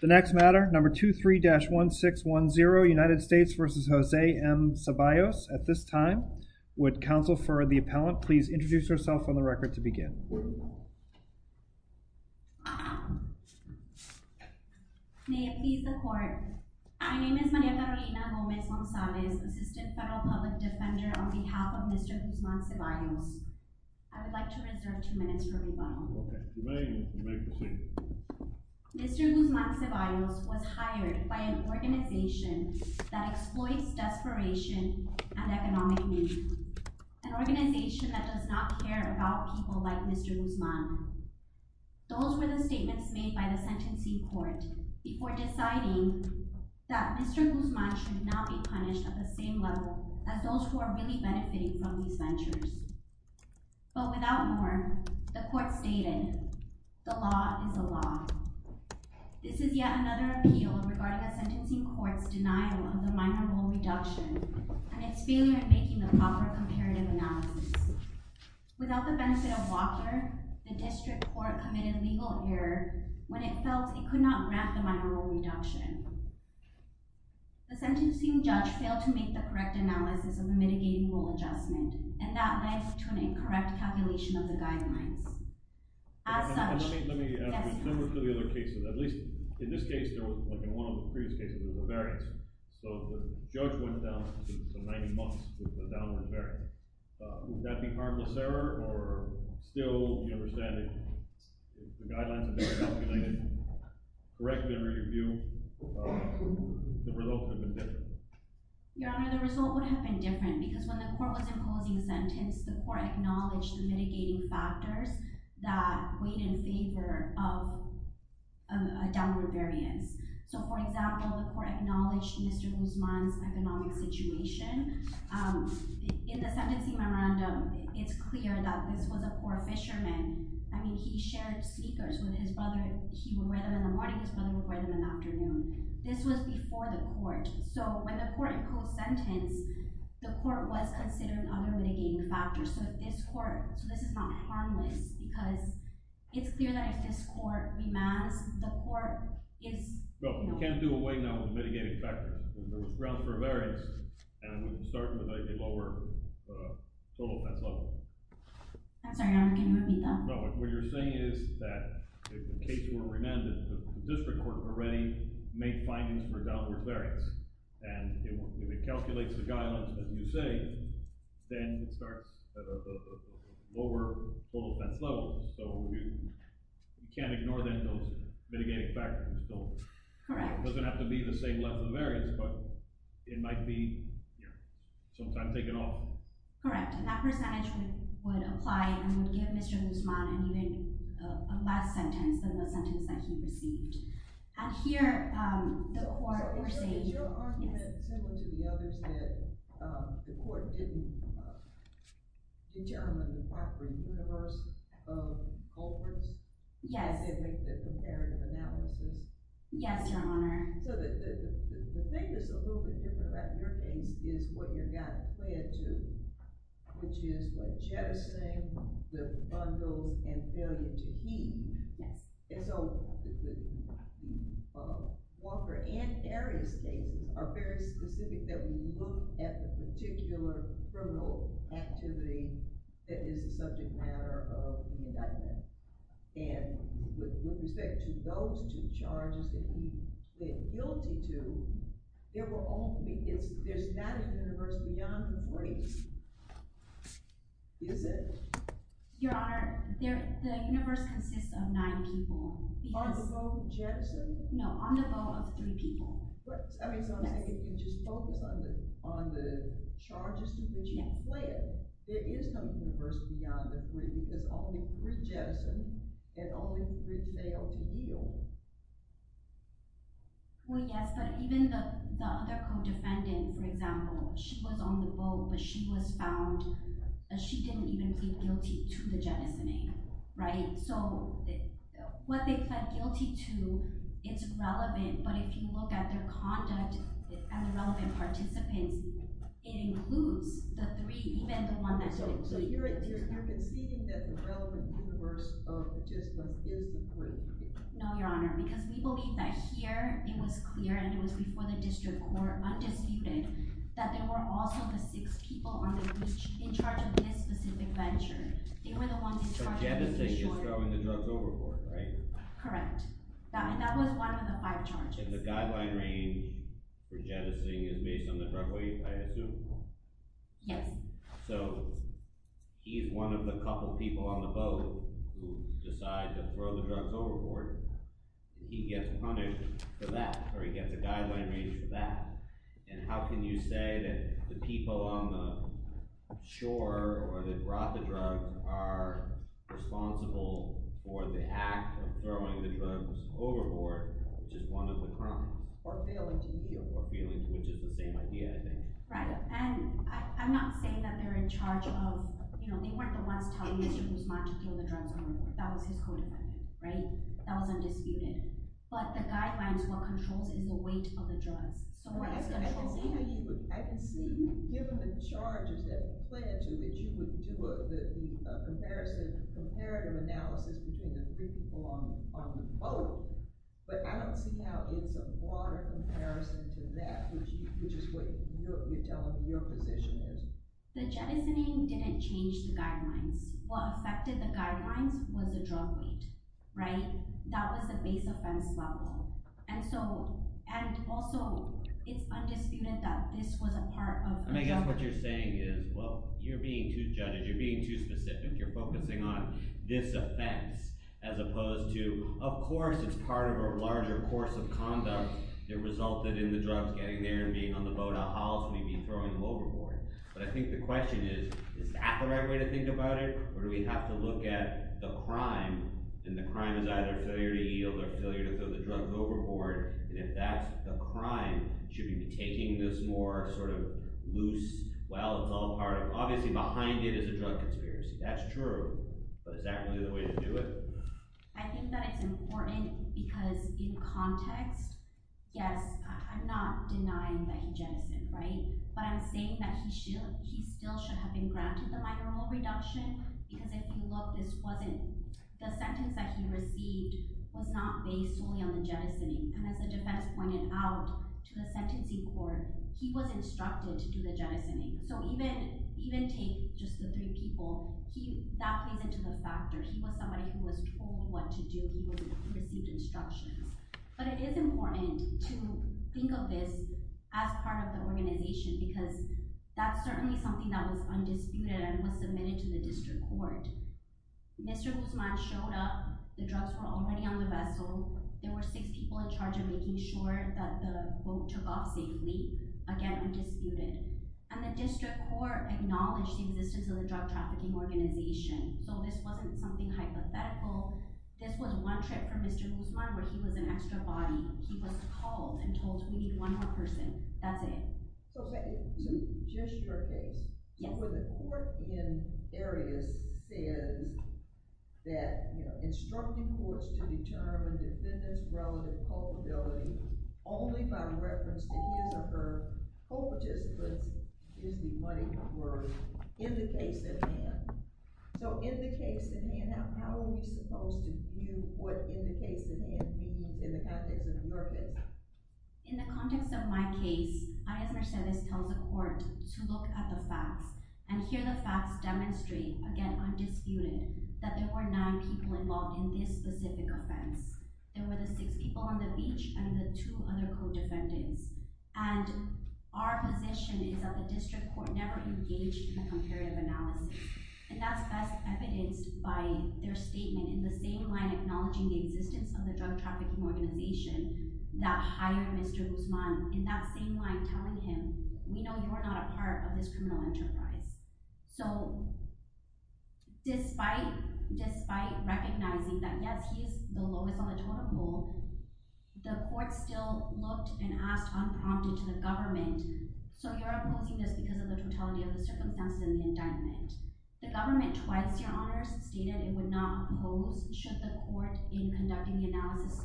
The next matter, number 23-1610, United States v. Jose M. Ceballos. At this time, would counsel for the appellant please introduce herself on the record to begin. May it please the court. My name is Maria Carolina Gomez-Gonzalez, Assistant Federal Public Defender on behalf of Mr. Guzman Ceballos. I would like to reserve two minutes for rebuttal. Okay. You may proceed. Mr. Guzman Ceballos was hired by an organization that exploits desperation and economic meaning. An organization that does not care about people like Mr. Guzman. Those were the statements made by the sentencing court before deciding that Mr. Guzman should not be punished at the same level as those who are really benefiting from these ventures. But without more, the court stated, the law is the law. This is yet another appeal regarding a sentencing court's denial of the minor role reduction and its failure in making the proper comparative analysis. Without the benefit of Walker, the district court committed legal error when it felt it could not grant the minor role reduction. The sentencing judge failed to make the correct analysis of the mitigating role adjustment, and that led to an incorrect calculation of the guidelines. As such… Let me ask you, remember for the other cases, at least in this case there was, like in one of the previous cases, there was a variance, so the judge went down to some 90 months with a downward variance. Would that be harmless error, or still you understand that the guidelines have been calculated correctly and whatever your view, the result would have been different? Your Honor, the result would have been different because when the court was imposing the sentence, the court acknowledged the mitigating factors that weighed in favor of a downward variance. So, for example, the court acknowledged Mr. Guzman's economic situation. In the sentencing memorandum, it's clear that this was a poor fisherman. I mean, he shared sneakers with his brother. He would wear them in the morning, his brother would wear them in the afternoon. This was before the court. So, when the court imposed the sentence, the court was considering other mitigating factors. So, this is not harmless because it's clear that if this court remands, the court is… No, you can't do away now with mitigating factors. There was grounds for a variance, and it would start with a lower total penalty. I'm sorry, Your Honor. Can you repeat that? What you're saying is that if the case were remanded, the district court already made findings for a downward variance, and if it calculates the guidelines as you say, then it starts at a lower full offense level. So, you can't ignore then those mitigating factors. Correct. It doesn't have to be the same level of variance, but it might be sometime taken off. Correct, and that percentage would apply and would give Mr. Guzman an even less sentence than the sentence that he received. And here, the court were saying… So, is your argument similar to the others that the court didn't determine the proper universe of culprits? Yes. It didn't make the comparative analysis? Yes, Your Honor. So, the thing that's a little bit different about your case is what your guy pled to, which is by jettisoning the bundles and failing to keep. Yes. And so, Walker and Arias cases are very specific that we look at the particular criminal activity that is a subject matter of the indictment. And with respect to those two charges that we pled guilty to, there's not a universe beyond the three, is it? Your Honor, the universe consists of nine people. On the vote of jettison? No, on the vote of three people. But, I mean, so I'm saying if you just focus on the charges to which you pled, there is no universe beyond the three. There's only three jettisoned and only three failed to yield. Well, yes, but even the other co-defendant, for example, she was on the vote, but she was found… She didn't even plead guilty to the jettisoning, right? So, what they pled guilty to, it's relevant, but if you look at their conduct and the relevant participants, it includes the three, even the one that… So, you're conceding that the relevant universe of participants is the three people? No, Your Honor, because we believe that here it was clear and it was before the district court, undisputed, that there were also the six people in charge of this specific venture. So, jettisoning is throwing the drugs overboard, right? Correct. That was one of the five charges. The guideline range for jettisoning is based on the drug weight, I assume? Yes. So, he's one of the couple people on the vote who decides to throw the drugs overboard. He gets punished for that, or he gets a guideline range for that. And how can you say that the people on the shore or that brought the drugs are responsible for the act of throwing the drugs overboard, which is one of the crimes? Or feelings. Or feelings, which is the same idea, I think. Right, and I'm not saying that they're in charge of… You know, they weren't the ones telling Mr. Guzman to throw the drugs overboard. That was his code of conduct, right? That was undisputed. But the guidelines, what controls is the weight of the drugs. I can see, given the charges that were planned to, that you would do a comparative analysis between the three people on the vote. But I don't see how it's a broader comparison to that, which is what you're telling me your position is. The jettisoning didn't change the guidelines. What affected the guidelines was the drug weight, right? And that was the base offense level. And also, it's undisputed that this was a part of… I mean, I guess what you're saying is, well, you're being too judged. You're being too specific. You're focusing on this offense as opposed to, of course, it's part of a larger course of conduct that resulted in the drugs getting there and being on the vote. How else would he be throwing them overboard? But I think the question is, is that the right way to think about it? Or do we have to look at the crime, and the crime is either failure to yield or failure to throw the drugs overboard? And if that's the crime, should we be taking this more sort of loose, well, it's all part of… Obviously, behind it is a drug conspiracy. That's true. But is that really the way to do it? I think that it's important because in context, yes, I'm not denying that he jettisoned, right? But I'm saying that he still should have been granted the minor role reduction because if you look, this wasn't… The sentence that he received was not based solely on the jettisoning. And as the defense pointed out to the sentencing court, he was instructed to do the jettisoning. So even take just the three people, that plays into the factor. He was somebody who was told what to do. He received instructions. But it is important to think of this as part of the organization because that's certainly something that was undisputed and was submitted to the district court. Mr. Guzman showed up. The drugs were already on the vessel. There were six people in charge of making sure that the boat took off safely, again, undisputed. And the district court acknowledged the existence of the drug trafficking organization. So this wasn't something hypothetical. This was one trick from Mr. Guzman where he was an extra body. He was called and told, we need one more person. That's it. So just your case. Yes. Where the court in areas says that, you know, instructing courts to determine defendant's relative culpability only by reference to his or her co-participants is the money worth in the case at hand. So in the case at hand, how are we supposed to view what in the case at hand means in the context of the Murphys? In the context of my case, I, as Mercedes, tell the court to look at the facts and hear the facts demonstrate, again, undisputed, that there were nine people involved in this specific offense. There were the six people on the beach and the two other co-defendants. And our position is that the district court never engaged in a comparative analysis. And that's best evidenced by their statement in the same line acknowledging the existence of the drug trafficking organization that hired Mr. Guzman in that same line telling him, we know you are not a part of this criminal enterprise. So despite recognizing that, yes, he is the lowest on the total poll, the court still looked and asked unprompted to the government, so you're opposing this because of the totality of the circumstances of the indictment. The government twice, Your Honors, stated it would not oppose should the court, in conducting the analysis,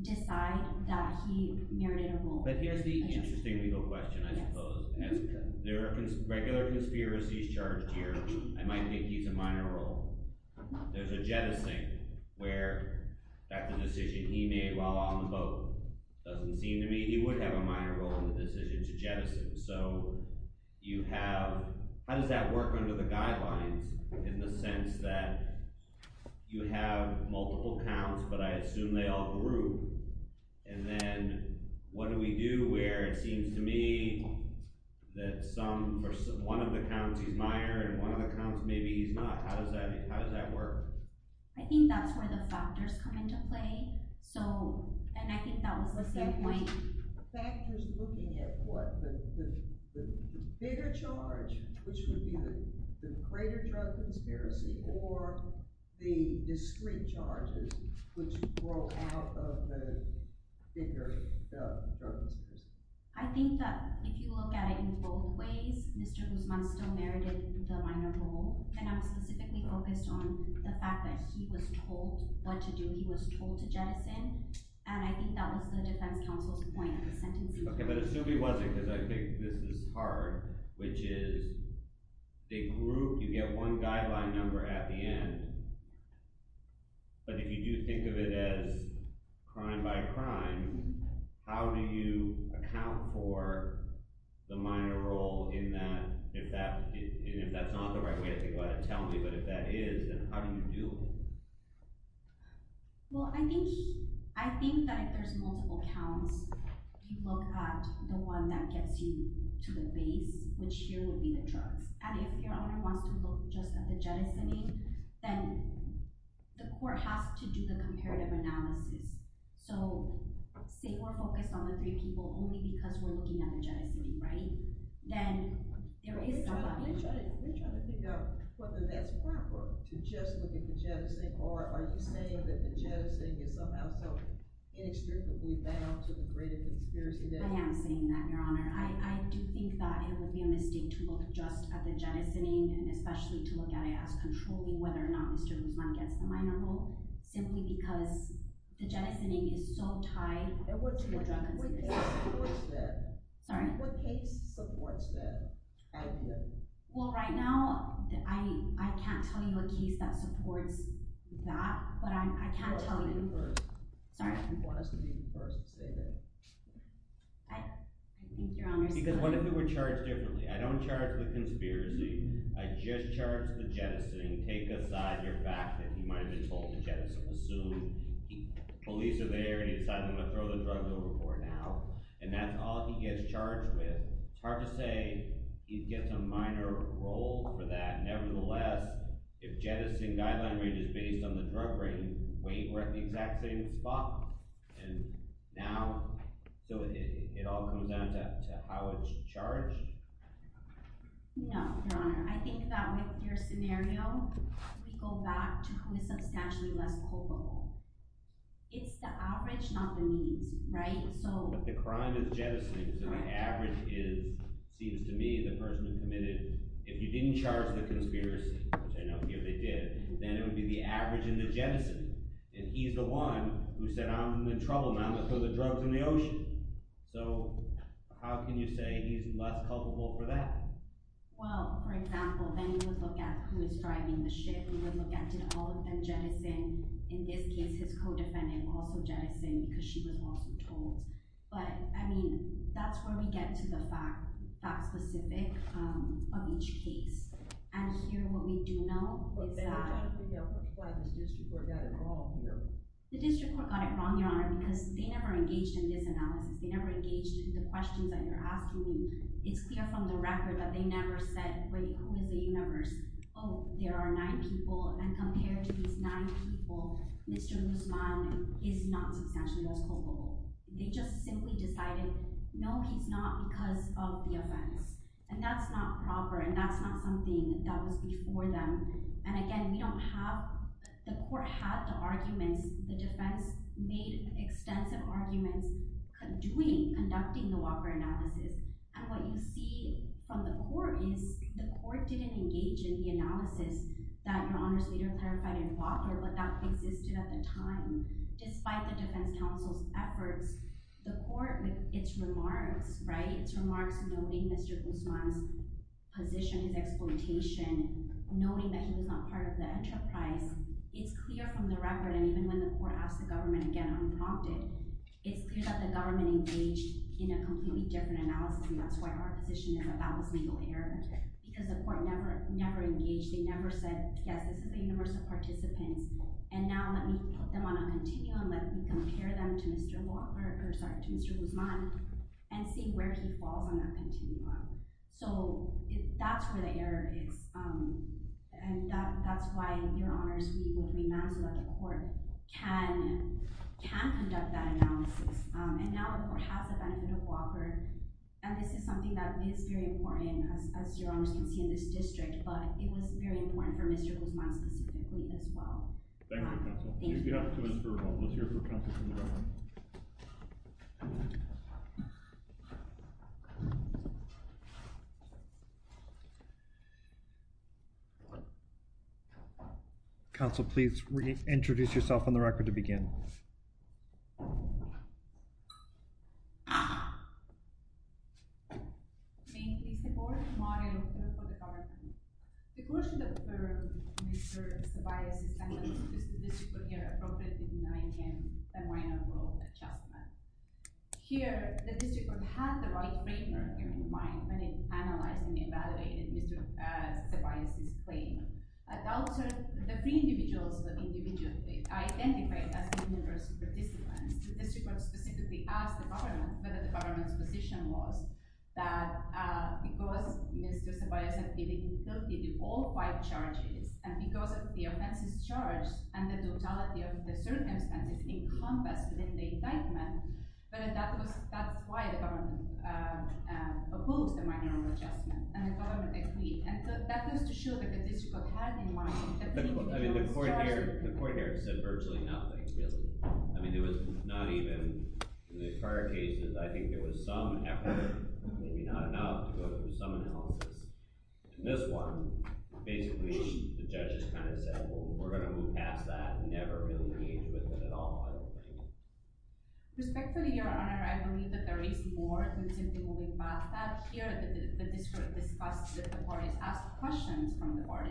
decide that he merited a vote. But here's the interesting legal question, I suppose. As there are regular conspiracies charged here, I might think he's a minor role. There's a jettison where, in fact, the decision he made while on the boat doesn't seem to me he would have a minor role in the decision to jettison. So how does that work under the guidelines in the sense that you have multiple counts, but I assume they all group? And then what do we do where it seems to me that one of the counts, he's minor, and one of the counts, maybe he's not? How does that work? I think that's where the factors come into play. And I think that was the same point. Factors looking at what? The bigger charge, which would be the greater drug conspiracy, or the discrete charges, which grow out of the bigger drug conspiracy? I think that if you look at it in both ways, Mr. Guzman still merited the minor role, and I'm specifically focused on the fact that he was told what to do. He was told to jettison, and I think that was the defense counsel's point of the sentencing. Okay, but assume he wasn't, because I think this is hard, which is they group – you get one guideline number at the end, but if you do think of it as crime by crime, how do you account for the minor role in that? If that's not the right way to think about it, tell me, but if that is, then how do you deal with it? Well, I think that if there's multiple counts, you look at the one that gets you to the base, which here would be the drugs. And if your owner wants to look just at the jettisoning, then the court has to do the comparative analysis. So say we're focused on the three people only because we're looking at the jettisoning, right? Then there is – We're trying to figure out whether that's proper to just look at the jettisoning, or are you saying that the jettisoning is somehow so inextricably bound to the greater conspiracy? I am saying that, Your Honor. I do think that it would be a mistake to look just at the jettisoning and especially to look at it as controlling whether or not Mr. Guzman gets the minor role, simply because the jettisoning is so tied to the drug conspiracy. What case supports that idea? Well, right now, I can't tell you a case that supports that, but I can tell you – Sorry? You're the first to say that. I think Your Honor – Because what if it were charged differently? I don't charge the conspiracy. I just charge the jettisoning. Take aside your fact that he might have been told to jettison. Assume police are there, and he decides he's going to throw the drugs over for it now, and that's all he gets charged with. It's hard to say he gets a minor role for that. Nevertheless, if jettisoning guideline range is based on the drug range, wait, we're at the exact same spot. And now – so it all comes down to how it's charged? No, Your Honor. I think that with your scenario, we go back to who is substantially less culpable. It's the outrage, not the needs, right? But the crime is jettisoning, so the average is – seems to me the person who committed – if you didn't charge the conspiracy, which I don't think they did, then it would be the average in the jettison. And he's the one who said, I'm in trouble now. Let's throw the drugs in the ocean. So how can you say he's less culpable for that? Well, for example, then you would look at who is driving the ship. You would look at, did all of them jettison? In this case, his co-defendant also jettisoned because she was also told. But, I mean, that's where we get to the fact – fact-specific of each case. And here, what we do know is that – But then again, we don't know why this district court got it wrong here. The district court got it wrong, Your Honor, because they never engaged in this analysis. They never engaged in the questions that you're asking. It's clear from the record that they never said, wait, who are the U-Members? Oh, there are nine people, and compared to these nine people, Mr. Guzman is not substantially less culpable. They just simply decided, no, he's not because of the offense. And that's not proper, and that's not something that was before them. And again, we don't have – the court had the arguments. The defense made extensive arguments conducting the Walker analysis. And what you see from the court is the court didn't engage in the analysis that Your Honor's leader clarified in Walker, but that existed at the time, despite the defense counsel's efforts. The court, with its remarks, right, its remarks noting Mr. Guzman's position, his exploitation, noting that he was not part of the enterprise, it's clear from the record, and even when the court asked the government again unprompted, it's clear that the government engaged in a completely different analysis, and that's why our position is about this legal error, because the court never engaged. They never said, yes, this is the U-Members of participants, and now let me put them on a continuum, let me compare them to Mr. Walker – or sorry, to Mr. Guzman and see where he falls on that continuum. So that's where the error is. And that's why Your Honor's legal remand, so that the court can conduct that analysis. And now the court has the benefit of Walker, and this is something that is very important, as Your Honors can see in this district, but it was very important for Mr. Guzman specifically as well. Thank you, counsel. Thank you. We'll hear from counsel from the record. Counsel, please reintroduce yourself from the record to begin. Thank you, Mr. Board, Mario, and members of the government. The court should affirm Mr. Ceballos' sentence, because the district court here appropriately denied him a minor world adjustment. Here, the district court had the right framework in mind when it analyzed and evaluated Mr. Ceballos' claim. Adults are the individuals that individually identify as U-Members of participants, so the district court specifically asked the government whether the government's position was that because Mr. Ceballos had been guilty to all five charges, and because of the offenses charged, and the totality of the circumstances encompassed within the indictment, whether that's why the government approved the minor world adjustment, and the government agreed. And that was to show that the district court had in mind that the individual was charged. The court here said virtually nothing, really. I mean, it was not even, in the prior cases, I think there was some effort, maybe not enough, to go through some analysis. In this one, basically, the judges kind of said, well, we're going to move past that, and never really engage with it at all, I don't think. Respectfully, Your Honor, I believe that there is more than simply moving past that. Here, the district discussed that the court has asked questions from the court,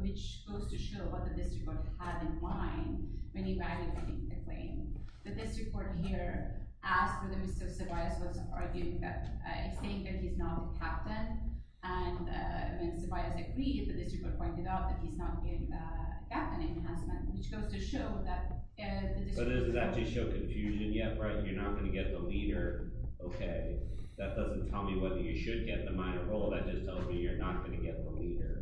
which goes to show what the district court had in mind when evaluating the claim. The district court here asked whether Mr. Ceballos was arguing that, saying that he's not the captain, and when Ceballos agreed, the district court pointed out that he's not being the captain enhancement, which goes to show that the district court— So this is actually to show confusion yet, right? You're not going to get the leader? Okay, that doesn't tell me whether you should get the minor role. No, that just tells me you're not going to get the leader.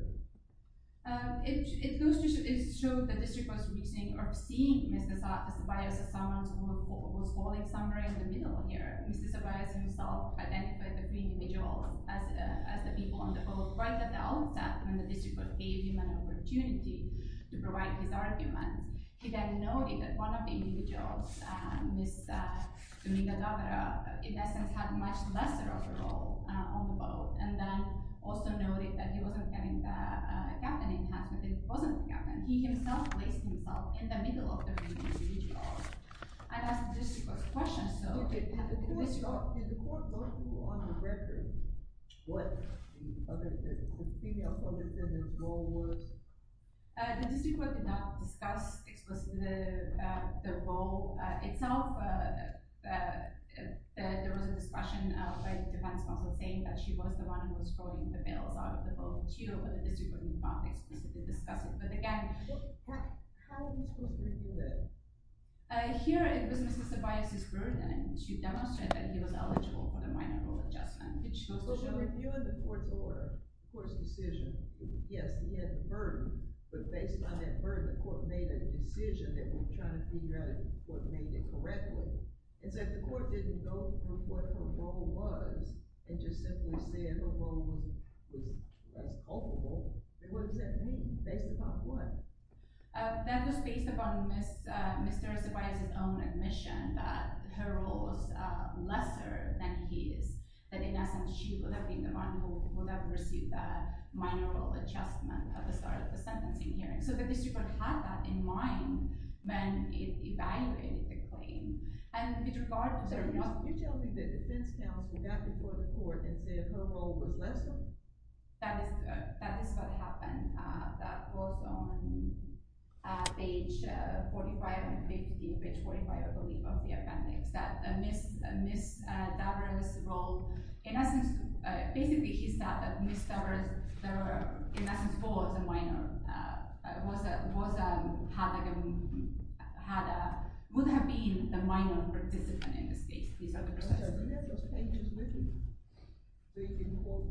It goes to show the district court's reasoning of seeing Mr. Ceballos as someone who was falling somewhere in the middle here. Mr. Ceballos himself identified the three individuals as the people on the boat, right at the outset when the district court gave him an opportunity to provide his argument. He then noted that one of the individuals, Ms. Dominga-Torre, in essence, had a much lesser of a role on the boat, and then also noted that he wasn't getting the captain enhancement. If he wasn't the captain, he himself placed himself in the middle of the three individuals. And that's the district court's question, so— Did the court go through on a record what the female public defender's role was? The district court did not discuss explicitly the role itself. There was a discussion by the defense counsel saying that she was the one who was throwing the bales out of the boat. The district court did not explicitly discuss it, but again— How are you supposed to review it? Here, it was Mr. Ceballos' word, and she demonstrated that he was eligible for the minor role adjustment. So she was reviewing the court's order, the court's decision. Yes, he had the burden, but based on that burden, the court made a decision that was trying to figure out if the court made it correctly. And so if the court didn't go through what her role was and just simply said her role was less culpable, then what does that mean? Based upon what? That was based upon Mr. Ceballos' own admission that her role was lesser than his, that in essence she would have been the one who would have received the minor role adjustment at the start of the sentencing hearing. So the district court had that in mind when it evaluated the claim. And with regard to— You're telling me that the defense counsel got before the court and said her role was lesser? That is what happened. That was on page 45 and 50, page 45, I believe, of the appendix, that Ms. Davers' role— In essence, basically he said that Ms. Davers, in essence, was a minor, would have been the minor participant in this case. Okay, so you had those pages with you in court?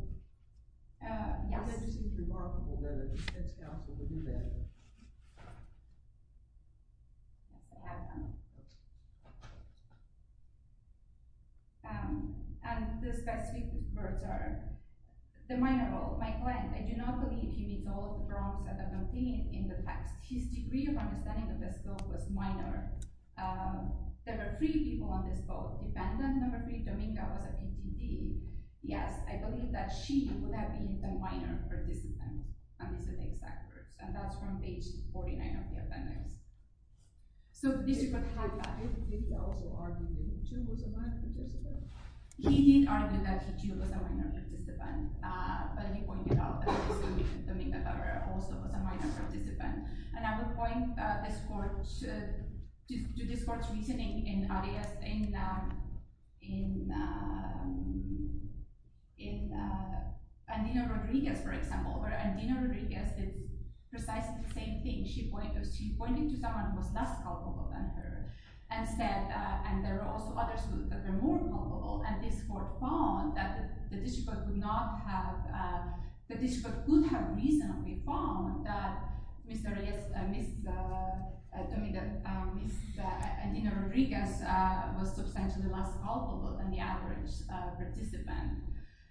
Yes. It just seems remarkable whether the defense counsel would do that. And the specific words are, the minor role. My client, I do not believe he means all the wrong things in the text. His degree of understanding of this bill was minor. There were three people on this vote. Defendant number three, Dominga, was a PTD. Yes, I believe that she would have been the minor participant, and these are the exact words. And that's from page 49 of the appendix. So the district court had that. Did he also argue that he, too, was a minor participant? He did argue that he, too, was a minor participant. But he pointed out that Ms. Dominga Davers also was a minor participant. And I would point to this court's reasoning in Andino Rodriguez, for example, where Andino Rodriguez did precisely the same thing. She pointed to someone who was less culpable than her and said, and there were also others who were more culpable. And this court found that the district court could have reasonably found that Ms. Andino Rodriguez was substantially less culpable than the average participant.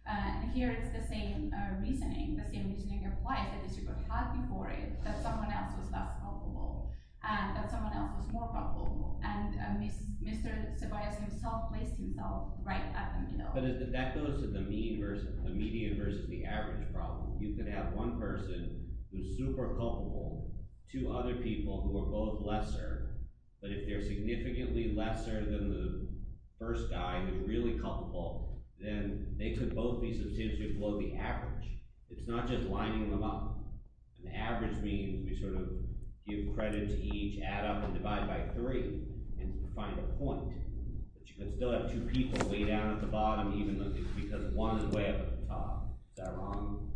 And here it's the same reasoning. The same reasoning applies that the district court had before it, that someone else was less culpable and that someone else was more culpable. And Mr. Ceballos himself placed himself right at the middle. But that goes to the median versus the average problem. You could have one person who's super culpable, two other people who are both lesser. But if they're significantly lesser than the first guy who's really culpable, then they could both be substantially below the average. It's not just lining them up. The average means we sort of give credit to each, add up, and divide by three and find a point. But you can still have two people way down at the bottom, even though it's because one is way up at the top. Is that wrong?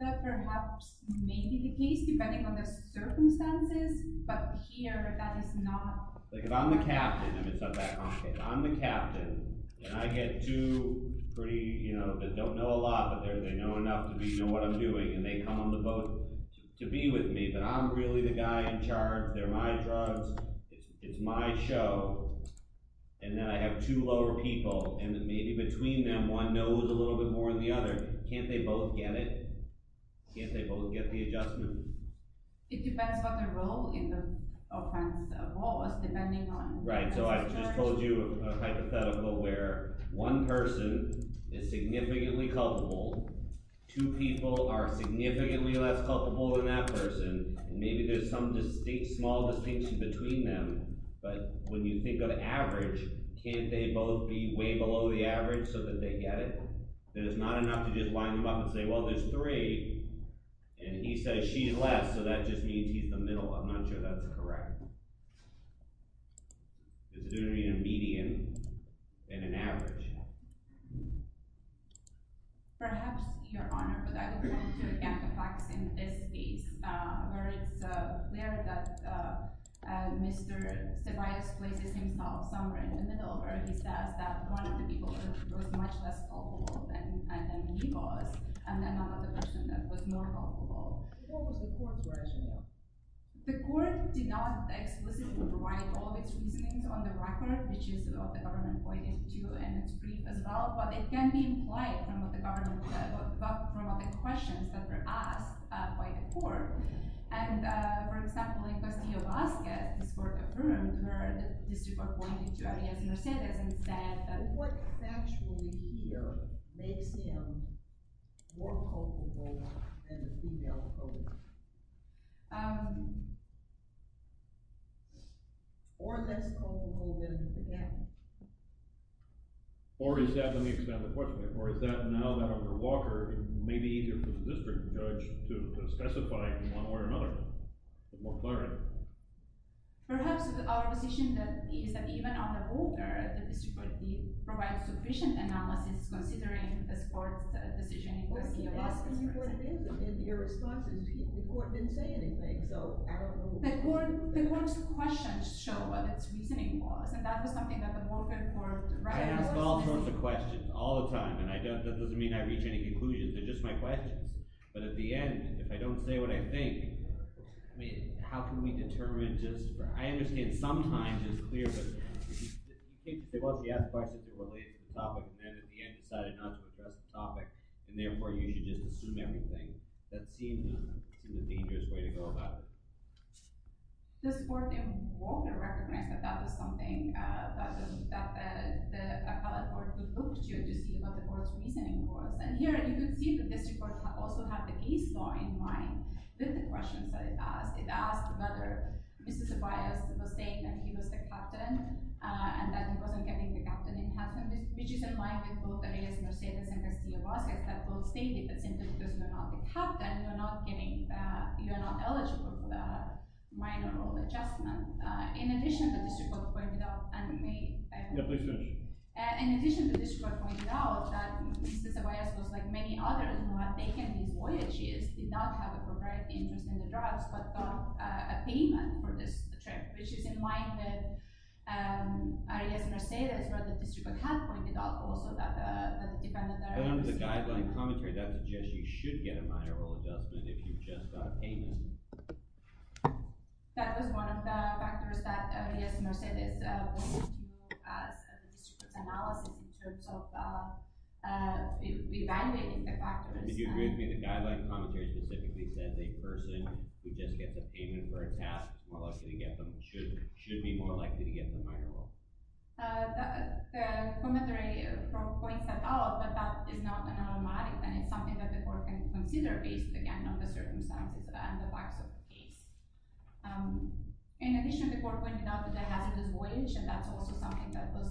But perhaps maybe the case, depending on the circumstances, but here that is not… Like if I'm the captain, and it's not that complicated. I'm the captain, and I get two pretty – they don't know a lot, but they know enough to know what I'm doing. And they come on the boat to be with me, but I'm really the guy in charge. They're my drugs. It's my show. And then I have two lower people, and maybe between them one knows a little bit more than the other. Can't they both get it? Can't they both get the adjustment? It depends on the role in the offense. Right, so I just told you a hypothetical where one person is significantly culpable, two people are significantly less culpable than that person, and maybe there's some small distinction between them. But when you think of average, can't they both be way below the average so that they get it? That it's not enough to just line them up and say, well, there's three, and he says she's less, so that just means he's the middle. I'm not sure that's correct. There's going to be a median and an average. Perhaps, Your Honor, but I would like to get the facts in this case, where it's clear that Mr. Ceballos places himself somewhere in the middle, where he says that one of the people was much less culpable than he was, and another person was more culpable. What was the court's version of that? The court did not explicitly provide all of its reasonings on the record, which is what the government pointed to, and it's brief as well, but it can be implied from the questions that were asked by the court. For example, in Castillo-Vazquez, this court confirmed what the district court pointed to, Arias Mercedes, and said that what's actually here makes him more culpable than the female culprit. Or less culpable than the man. Or is that, let me expand the question a bit, or is that now that our walker may be easier for the district judge to specify one way or another? Perhaps our decision is that even on the walker, the district court did provide sufficient analysis considering this court's decision. The court's questions show what its reasoning was, and that was something that the walker court… I ask all sorts of questions all the time, and that doesn't mean I reach any conclusions. They're just my questions. But at the end, if I don't say what I think, how can we determine just… I understand sometimes it's clear, but… Well, she asked questions related to the topic, and then at the end decided not to address the topic, and therefore you should just assume everything. That seems a dangerous way to go about it. This court in Walker recognized that that was something that the appellate court would look to to see what the court's reasoning was. And here you can see that the district court also had the case law in mind with the questions that it asked. It asked whether Mr. Tobias was saying that he was the captain, and that he wasn't getting the captain in heaven, which is in line with both Arias Mercedez and Garcia Vasquez, that both stated that simply because you're not the captain, and you're not eligible for the minor role adjustment. In addition, the district court pointed out that Mr. Tobias was like many others who had taken these voyages, did not have a proprietary interest in the drugs, but got a payment for this trip, which is in line with Arias Mercedez, where the district court had pointed out also that the defendant… Under the guideline commentary, that suggests you should get a minor role adjustment if you've just got a payment. That was one of the factors that Arias Mercedez pointed to as a district court's analysis in terms of reevaluating the factors. If you agree with me, the guideline commentary specifically said a person who just gets a payment for a task should be more likely to get the minor role. The commentary points that out, but that is not an automatic, and it's something that the court can consider based, again, on the circumstances and the facts of the case. In addition, the court pointed out that there has been this voyage, and that's also something that was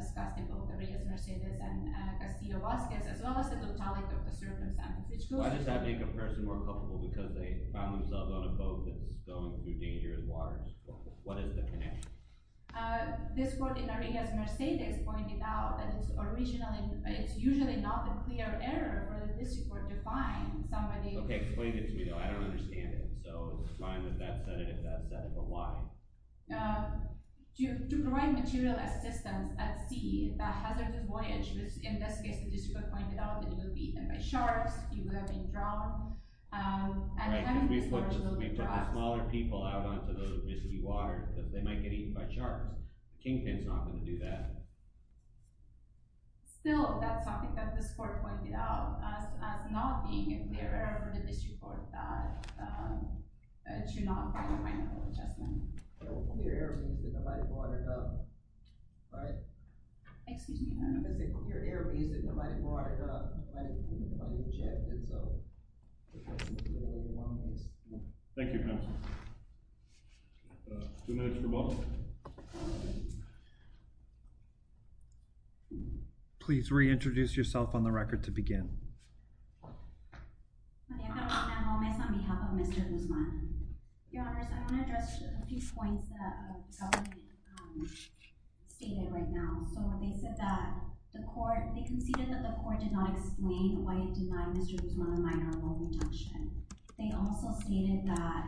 discussed in both Arias Mercedez and Garcia Vasquez, as well as the totality of the circumstances. I just have to make a person more comfortable, because they found themselves on a boat that's going through dangerous waters. What is the connection? This court in Arias Mercedez pointed out that it's usually not a clear error for the district court to find somebody… Okay, explain it to me, though. I don't understand it. So, it's fine that that's said it, if that's said it, but why? To provide material assistance at sea, the hazardous voyage, which in this case the district court pointed out that it would be eaten by sharks, you would have been drowned… Right, and we put the smaller people out onto those misty waters, because they might get eaten by sharks. Kingpin's not going to do that. Still, that's something that this court pointed out, as not being a clear error for the district court to not find a final adjustment. A clear error means that nobody brought it up, right? Excuse me? I'm going to say a clear error means that nobody brought it up, nobody objected, so… Thank you, counsel. Two minutes for both. Please reintroduce yourself on the record to begin. Maria Carolina Gomez, on behalf of Mr. Guzman. Your Honours, I want to address a few points that the government stated right now. So, they said that the court, they conceded that the court did not explain why it denied Mr. Guzman a minor world injunction. They also stated that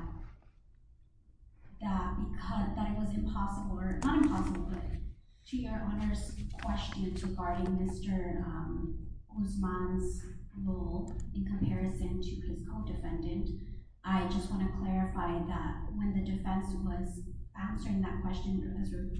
it was impossible, or not impossible, but to your Honours' question regarding Mr. Guzman's role in comparison to his co-defendant, I just want to clarify that when the defense was answering that question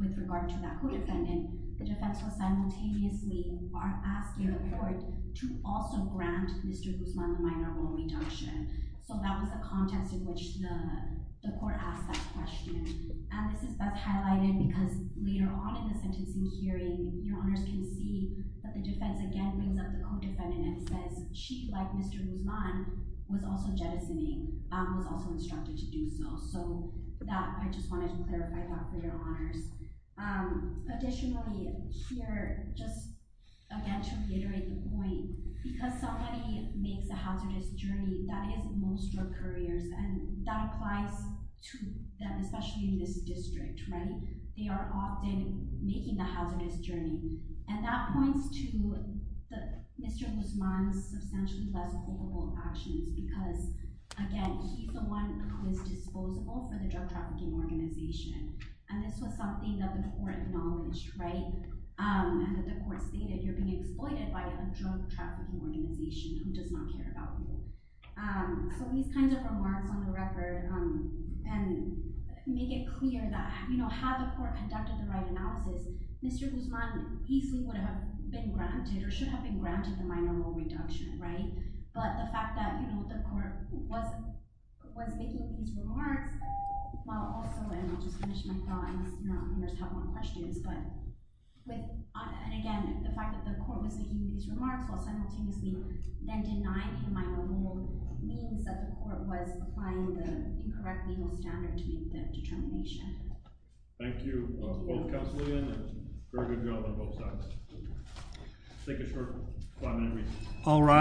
with regard to that co-defendant, the defense was simultaneously asking the court to also grant Mr. Guzman a minor world injunction. So, that was a contest in which the court asked that question. And this is best highlighted because later on in the sentencing hearing, your Honours can see that the defense again brings up the co-defendant and says she, like Mr. Guzman, was also jettisoning, was also instructed to do so. So, that, I just wanted to clarify that for your Honours. Additionally, here, just again to reiterate the point, because somebody makes a hazardous journey, that is most drug couriers, and that applies to them, especially in this district, right? They are often making the hazardous journey. And that points to Mr. Guzman's substantially less hopeful actions because, again, he's the one who is disposable for the drug trafficking organization. And this was something that the court acknowledged, right? And that the court stated, you're being exploited by a drug trafficking organization who does not care about you. So, these kinds of remarks on the record make it clear that, you know, had the court conducted the right analysis, Mr. Guzman easily would have been granted, or should have been granted the minor world injunction, right? But the fact that, you know, the court was making these remarks while also, and I'll just finish my thoughts, I know Honours have more questions, but, and again, the fact that the court was making these remarks while simultaneously then denying him minor world means that the court was applying the incorrect legal standard to make the determination. Thank you, both Councillors, and very good job on both sides. Let's take a short five-minute recess.